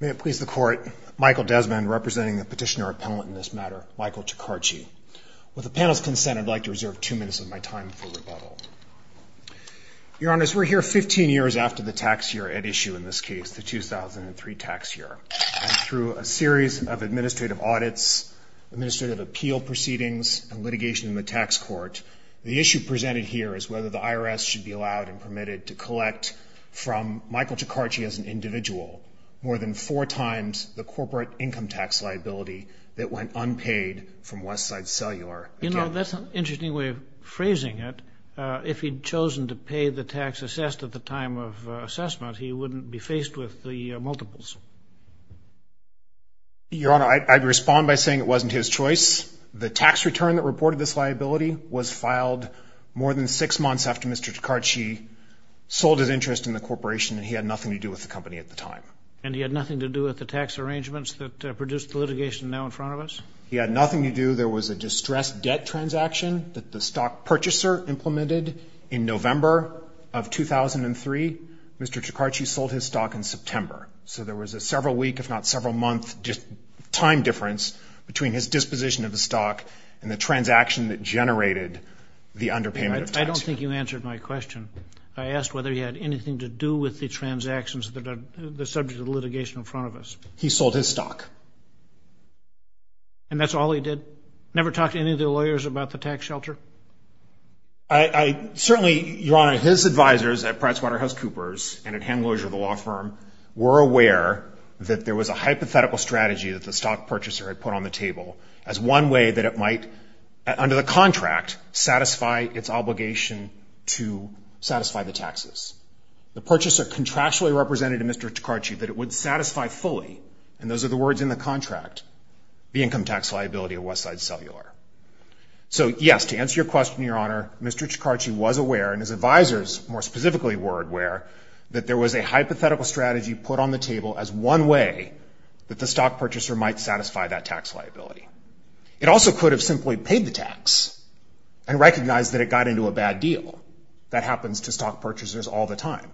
May it please the court, Michael Desmond, representing the petitioner appellant in this matter, Michael Tricarichi. With the panel's consent, I'd like to reserve two minutes of my time for rebuttal. Your honors, we're here 15 years after the tax year at issue in this case, the 2003 tax year. Through a series of administrative audits, administrative appeal proceedings, and litigation in the tax court, the issue presented here is whether the IRS should be allowed and permitted to collect from Michael Tricarichi as an individual more than four times the corporate income tax liability that went unpaid from Westside Cellular. You know, that's an interesting way of phrasing it. If he'd chosen to pay the tax assessed at the time of assessment, he wouldn't be faced with the multiples. Your honor, I'd respond by saying it wasn't his choice. The tax return that reported this liability was filed more than six months after Mr. Tricarichi sold his interest in the corporation and he had nothing to do with the company at the time. And he had nothing to do with the tax arrangements that produced the litigation now in front of us? He had nothing to do. There was a distressed debt transaction that the stock purchaser implemented in November of 2003. Mr. Tricarichi sold his stock in September. So there was a several week, if not several month, and the transaction that generated the underpayment of tax. I don't think you answered my question. I asked whether he had anything to do with the transactions that are the subject of the litigation in front of us. He sold his stock. And that's all he did? Never talked to any of the lawyers about the tax shelter? I certainly, your honor, his advisors at PricewaterhouseCoopers and at Hamloger, the law firm, were aware that there was a hypothetical strategy that the stock purchaser had put on the table as one way that it might, under the contract, satisfy its obligation to satisfy the taxes. The purchaser contractually represented to Mr. Tricarichi that it would satisfy fully, and those are the words in the contract, the income tax liability of Westside Cellular. So yes, to answer your question, your honor, Mr. Tricarichi was aware, and his advisors more specifically were aware, that there was a hypothetical strategy put on the table as one way that the stock purchaser might satisfy that tax liability. It also could have simply paid the tax and recognized that it got into a bad deal. That happens to stock purchasers all the time.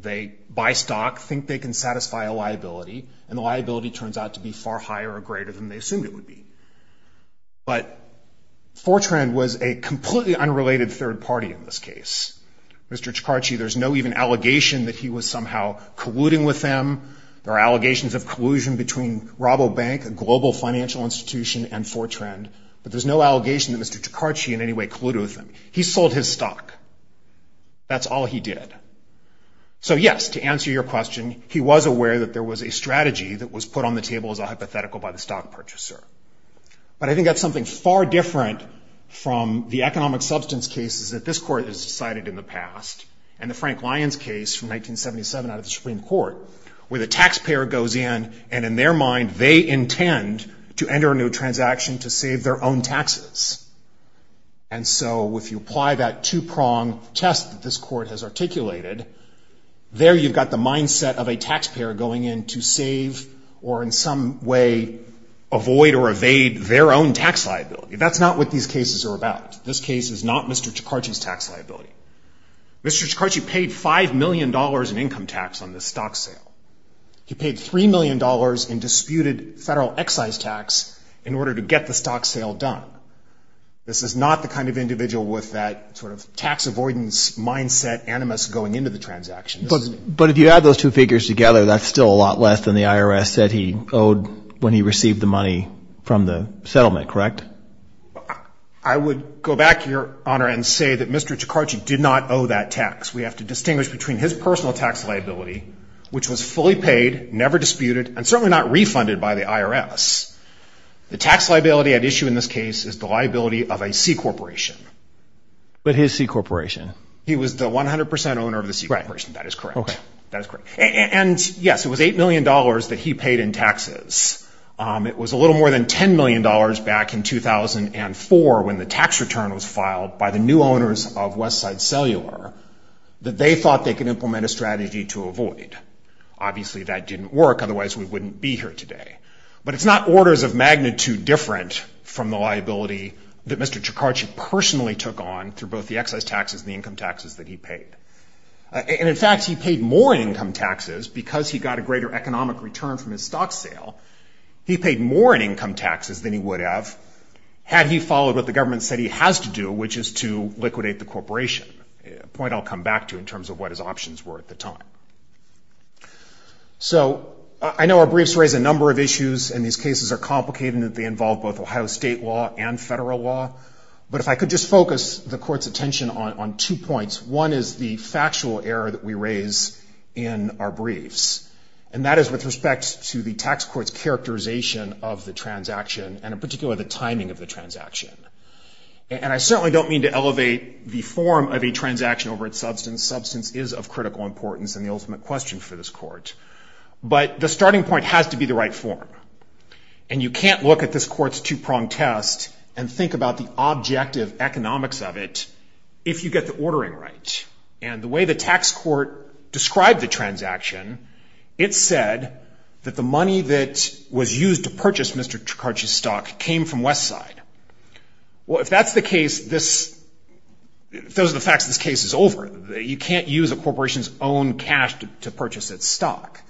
They buy stock, think they can satisfy a liability, and the liability turns out to be far higher or greater than they assumed it would be. But Fortran was a completely unrelated third party in this case. Mr. Tricarichi, there's no even allegation that he was somehow colluding with them. There are allegations of collusion between Rabobank, a global financial institution, and Fortran, but there's no allegation that Mr. Tricarichi in any way colluded with them. He sold his stock. That's all he did. So yes, to answer your question, he was aware that there was a strategy that was put on the table as a hypothetical by the stock purchaser. But I think that's something far different from the economic substance cases that this court has decided in the past, and the Frank Lyons case from 1977 out of the Supreme Court, where the taxpayer goes in, and in their mind, they intend to enter a new transaction to save their own taxes. And so if you apply that two-prong test that this court has articulated, there you've got the mindset of a taxpayer going in to save or in some way avoid or evade their own tax liability. That's not what these cases are about. This case is not Mr. Tricarichi's tax liability. Mr. Tricarichi paid $5 million in income tax on this stock sale. He paid $3 million in disputed federal excise tax in order to get the stock sale done. This is not the kind of individual with that sort of tax avoidance mindset animus going into the transaction. But if you add those two figures together, that's still a lot less than the IRS said he owed when he received the money from the settlement, correct? I would go back, Your Honor, and say that Mr. Tricarichi did not owe that tax. We have to distinguish between his personal tax liability, which was fully paid, never disputed, and certainly not refunded by the IRS. The tax liability at issue in this case is the liability of a C corporation. But his C corporation? He was the 100% owner of the C corporation. That is correct. That is correct. And yes, it was $8 million that he paid in taxes. It was a little more than $10 million back in 2004 when the tax return was filed by the new owners of Westside Cellular that they thought they could implement a strategy to avoid. Obviously, that didn't work, otherwise we wouldn't be here today. But it's not orders of magnitude different from the liability that Mr. Tricarichi personally took on through both the excise taxes and the income taxes that he paid. And in fact, he paid more in income taxes because he got a greater economic return from his stock sale. He paid more in income taxes than he would have had he followed what the government said he has to do, which is to liquidate the corporation, a point I'll come back to in terms of what his options were at the time. So I know our briefs raise a number of issues and these cases are complicated and that they involve both Ohio state law and federal law. But if I could just focus the court's attention on two points, one is the factual error that we raise in our briefs. And that is with respect to the tax court's characterization of the transaction and in particular the timing of the transaction. And I certainly don't mean to elevate the form of a transaction over its substance. Substance is of critical importance and the ultimate question for this court. But the starting point has to be the right form. And you can't look at this court's two-pronged test and think about the objective economics of it if you get the ordering right. And the way the tax court described the transaction, it said that the money that was used to purchase Mr. Tricarichi's stock came from Westside. Well, if that's the case, those are the facts, this case is over. You can't use a corporation's own cash to purchase its stock.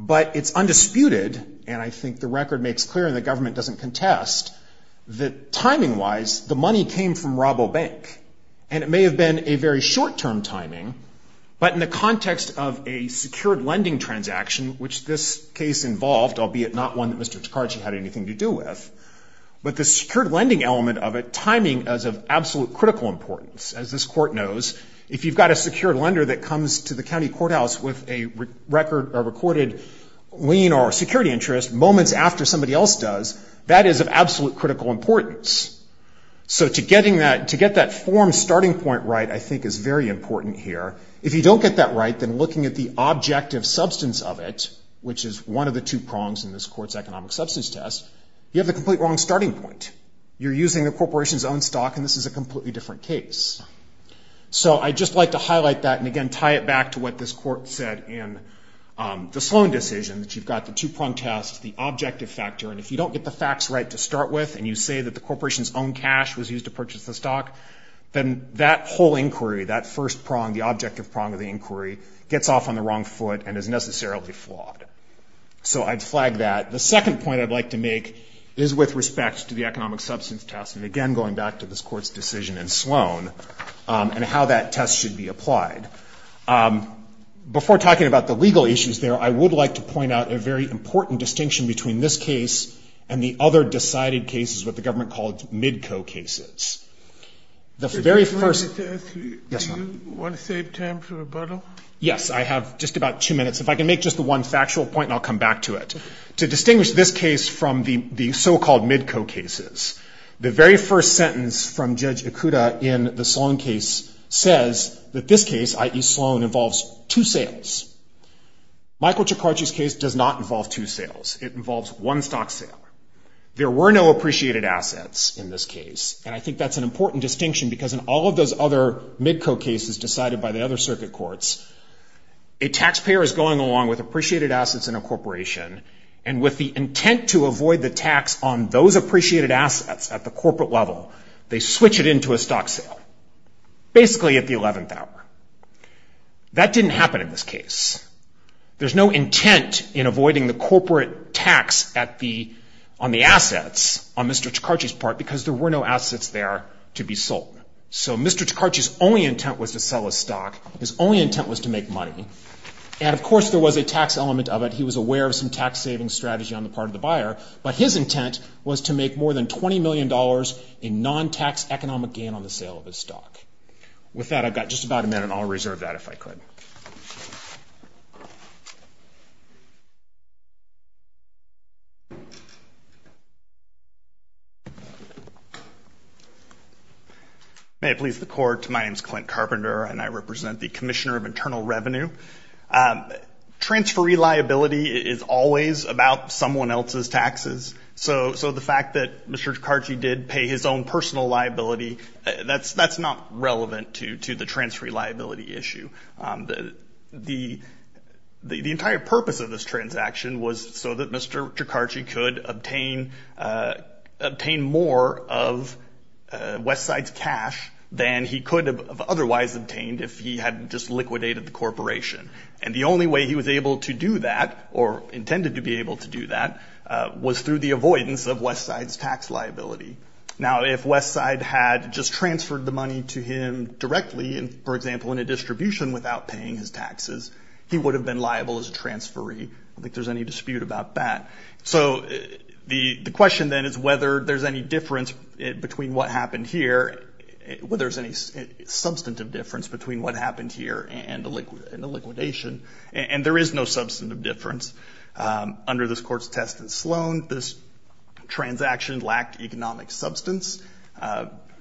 But it's undisputed, and I think the record makes clear and the government doesn't contest, that timing-wise, the money came from Rabobank. And it may have been a very short-term timing, but in the context of a secured lending transaction, which this case involved, albeit not one that Mr. Tricarichi had anything to do with, but the secured lending element of it, that is of absolute critical importance. As this court knows, if you've got a secured lender that comes to the county courthouse with a recorded lien or security interest moments after somebody else does, that is of absolute critical importance. So to get that form's starting point right, I think, is very important here. If you don't get that right, then looking at the objective substance of it, which is one of the two prongs in this court's economic substance test, you have the complete wrong starting point. You're using the corporation's own stock and this is a completely different case. So I'd just like to highlight that and again tie it back to what this court said in the Sloan decision, that you've got the two-prong test, the objective factor, and if you don't get the facts right to start with and you say that the corporation's own cash was used to purchase the stock, then that whole inquiry, that first prong, the objective prong of the inquiry, gets off on the wrong foot and is necessarily flawed. So I'd flag that. The second point I'd like to make is with respect to the economic substance test, and again going back to this court's decision in Sloan, and how that test should be applied. Before talking about the legal issues there, I would like to point out a very important distinction between this case and the other decided cases, what the government called MIDCO cases. The very first- Did you want to save time for rebuttal? Yes, I have just about two minutes. If I can make just the one factual point and I'll come back to it. To distinguish this case from the so-called MIDCO cases, the very first sentence from Judge Ikuda in the Sloan case says that this case, i.e. Sloan, involves two sales. Michael Ciccacci's case does not involve two sales. It involves one stock sale. There were no appreciated assets in this case, and I think that's an important distinction because in all of those other MIDCO cases decided by the other circuit courts, a taxpayer is going along with appreciated assets in a corporation, and with the intent to avoid the tax on those appreciated assets at the corporate level, they switch it into a stock sale, basically at the 11th hour. That didn't happen in this case. There's no intent in avoiding the corporate tax on the assets on Mr. Ciccacci's part because there were no assets there to be sold. So Mr. Ciccacci's only intent was to sell his stock. His only intent was to make money, and of course there was a tax element of it. He was aware of some tax-saving strategy on the part of the buyer, but his intent was to make more than $20 million in non-tax economic gain on the sale of his stock. With that, I've got just about a minute, and I'll reserve that if I could. May it please the Court, my name's Clint Carpenter, and I represent the Commissioner of Internal Revenue. Transferee liability is always about someone else's taxes, so the fact that Mr. Ciccacci did pay his own personal liability, that's not relevant to the transferee liability issue. The entire purpose of this transaction was so that Mr. Ciccacci could obtain more of Westside's cash than he could have otherwise obtained if he had just liquidated the corporation. And the only way he was able to do that, or intended to be able to do that, was through the avoidance of Westside's tax liability. Now, if Westside had just transferred the money to him directly, for example, in a distribution without paying his taxes, he would have been liable as a transferee. I don't think there's any dispute about that. So the question then is whether there's any difference between what happened here, whether there's any substantive difference between what happened here and the liquidation. And there is no substantive difference under this court's test in Sloan. This transaction lacked economic substance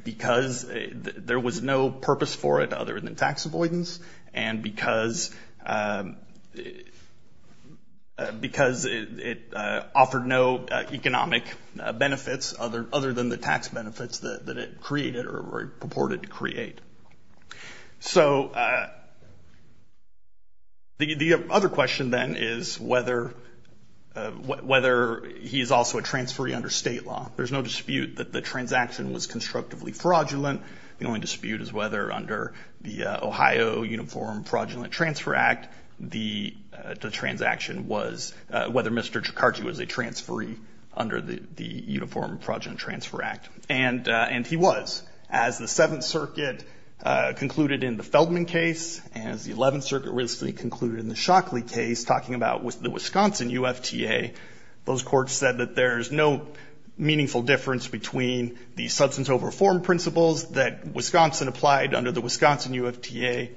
because there was no purpose for it other than tax avoidance, and because it offered no economic benefits other than the tax benefits that it created or purported to create. So the other question then is whether he is also a transferee under state law. There's no dispute that the transaction was constructively fraudulent. The only dispute is whether under the Ohio Uniform Fraudulent Transfer Act, the transaction was, whether Mr. Jakarczy was a transferee under the Uniform Fraudulent Transfer Act. And he was. As the Seventh Circuit concluded in the Feldman case, as the Eleventh Circuit recently concluded in the Shockley case, talking about the Wisconsin UFTA, those courts said that there's no meaningful difference between the substance over form principles that Wisconsin applied under the Wisconsin UFTA.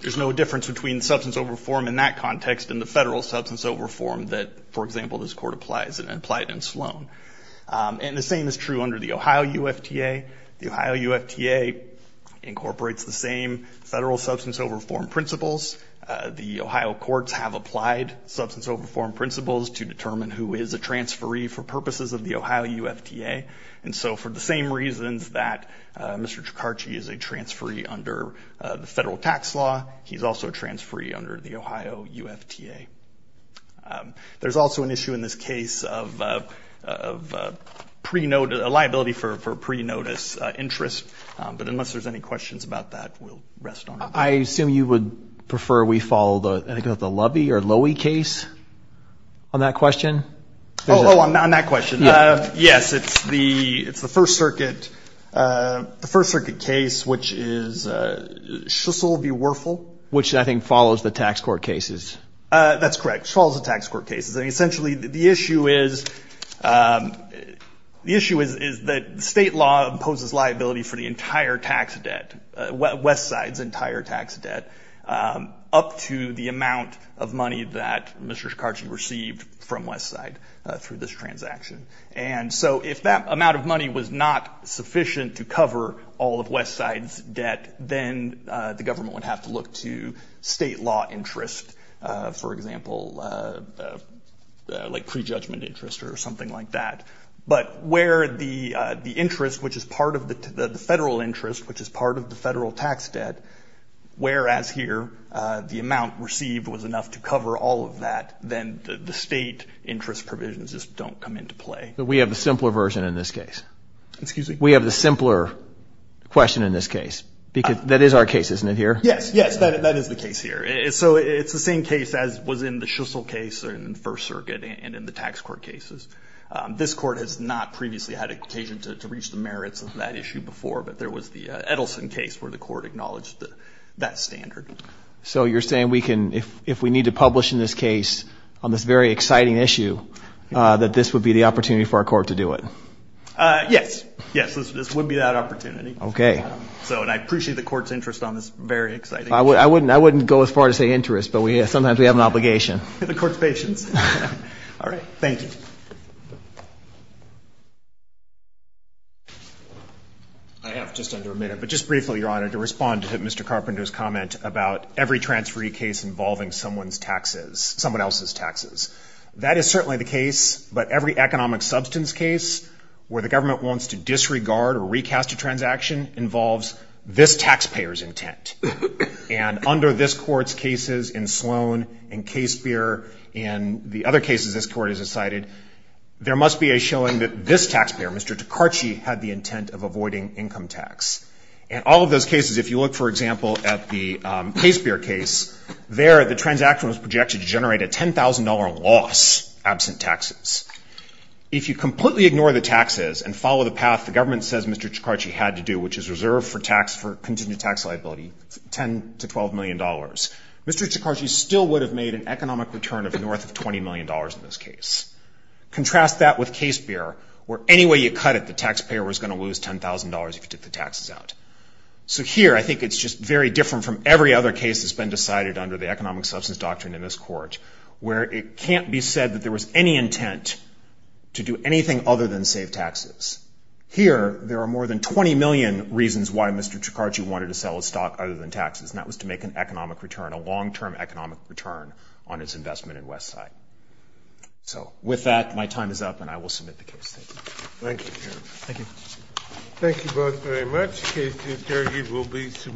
There's no difference between substance over form in that context and the federal substance over form that, for example, this court applied in Sloan. And the same is true under the Ohio UFTA. The Ohio UFTA incorporates the same federal substance over form principles. The Ohio courts have applied substance over form principles to determine who is a transferee for purposes of the Ohio UFTA. And so for the same reasons that Mr. Jakarczy is a transferee under the federal tax law, he's also a transferee under the Ohio UFTA. There's also an issue in this case of liability for pre-notice interest. But unless there's any questions about that, we'll rest on it. I assume you would prefer we follow the, I think it was the Loewe case on that question? Oh, on that question. Yes, it's the First Circuit case, which is Shissel v. Werfel. Which I think follows the tax court cases. That's correct, it follows the tax court cases. I mean, essentially the issue is, the issue is that state law imposes liability for the entire tax debt, Westside's entire tax debt, up to the amount of money that Mr. Jakarczy received from Westside through this transaction. And so if that amount of money was not sufficient to cover all of Westside's debt, then the government would have to look to state law interest. For example, like pre-judgment interest or something like that. But where the interest, which is part of the federal interest, which is part of the federal tax debt, whereas here the amount received was enough to cover all of that, then the state interest provisions just don't come into play. But we have a simpler version in this case. Excuse me? We have the simpler question in this case. That is our case, isn't it here? Yes, yes, that is the case here. So it's the same case as was in the Shissel case in First Circuit and in the tax court cases. This court has not previously had occasion to reach the merits of that issue before, but there was the Edelson case where the court acknowledged that standard. So you're saying if we need to publish in this case on this very exciting issue, that this would be the opportunity for our court to do it? Yes, yes, this would be that opportunity. Okay. So and I appreciate the court's interest on this very exciting issue. I wouldn't go as far to say interest, but sometimes we have an obligation. The court's patience. All right. Thank you. I have just under a minute, but just briefly, Your Honor, to respond to Mr. Carpenter's comment about every transferee case involving someone's taxes, someone else's taxes. That is certainly the case, but every economic substance case where the government wants to disregard or recast a transaction involves this taxpayer's intent. And under this court's cases in Sloan, in Casebeer, in the other cases this court has decided, there must be a showing that this taxpayer, Mr. Tkarchi, had the intent of avoiding income tax. And all of those cases, if you look, for example, at the Casebeer case, there the transaction was projected to generate a $10,000 loss absent taxes. If you completely ignore the taxes and follow the path the government says Mr. Tkarchi had to do, which is reserve for tax for continued tax liability, 10 to $12 million, Mr. Tkarchi still would have made an economic return of north of $20 million in this case. Contrast that with Casebeer, where any way you cut it, the taxpayer was gonna lose $10,000 if you took the taxes out. So here, I think it's just very different from every other case that's been decided under the economic substance doctrine in this court, where it can't be said that there was any intent to do anything other than save taxes. Here, there are more than 20 million reasons why Mr. Tkarchi wanted to sell his stock other than taxes, and that was to make an economic return, a long-term economic return on his investment in Westside. So with that, my time is up and I will submit the case. Thank you. Thank you. Thank you both very much. Case Tkarchi will be.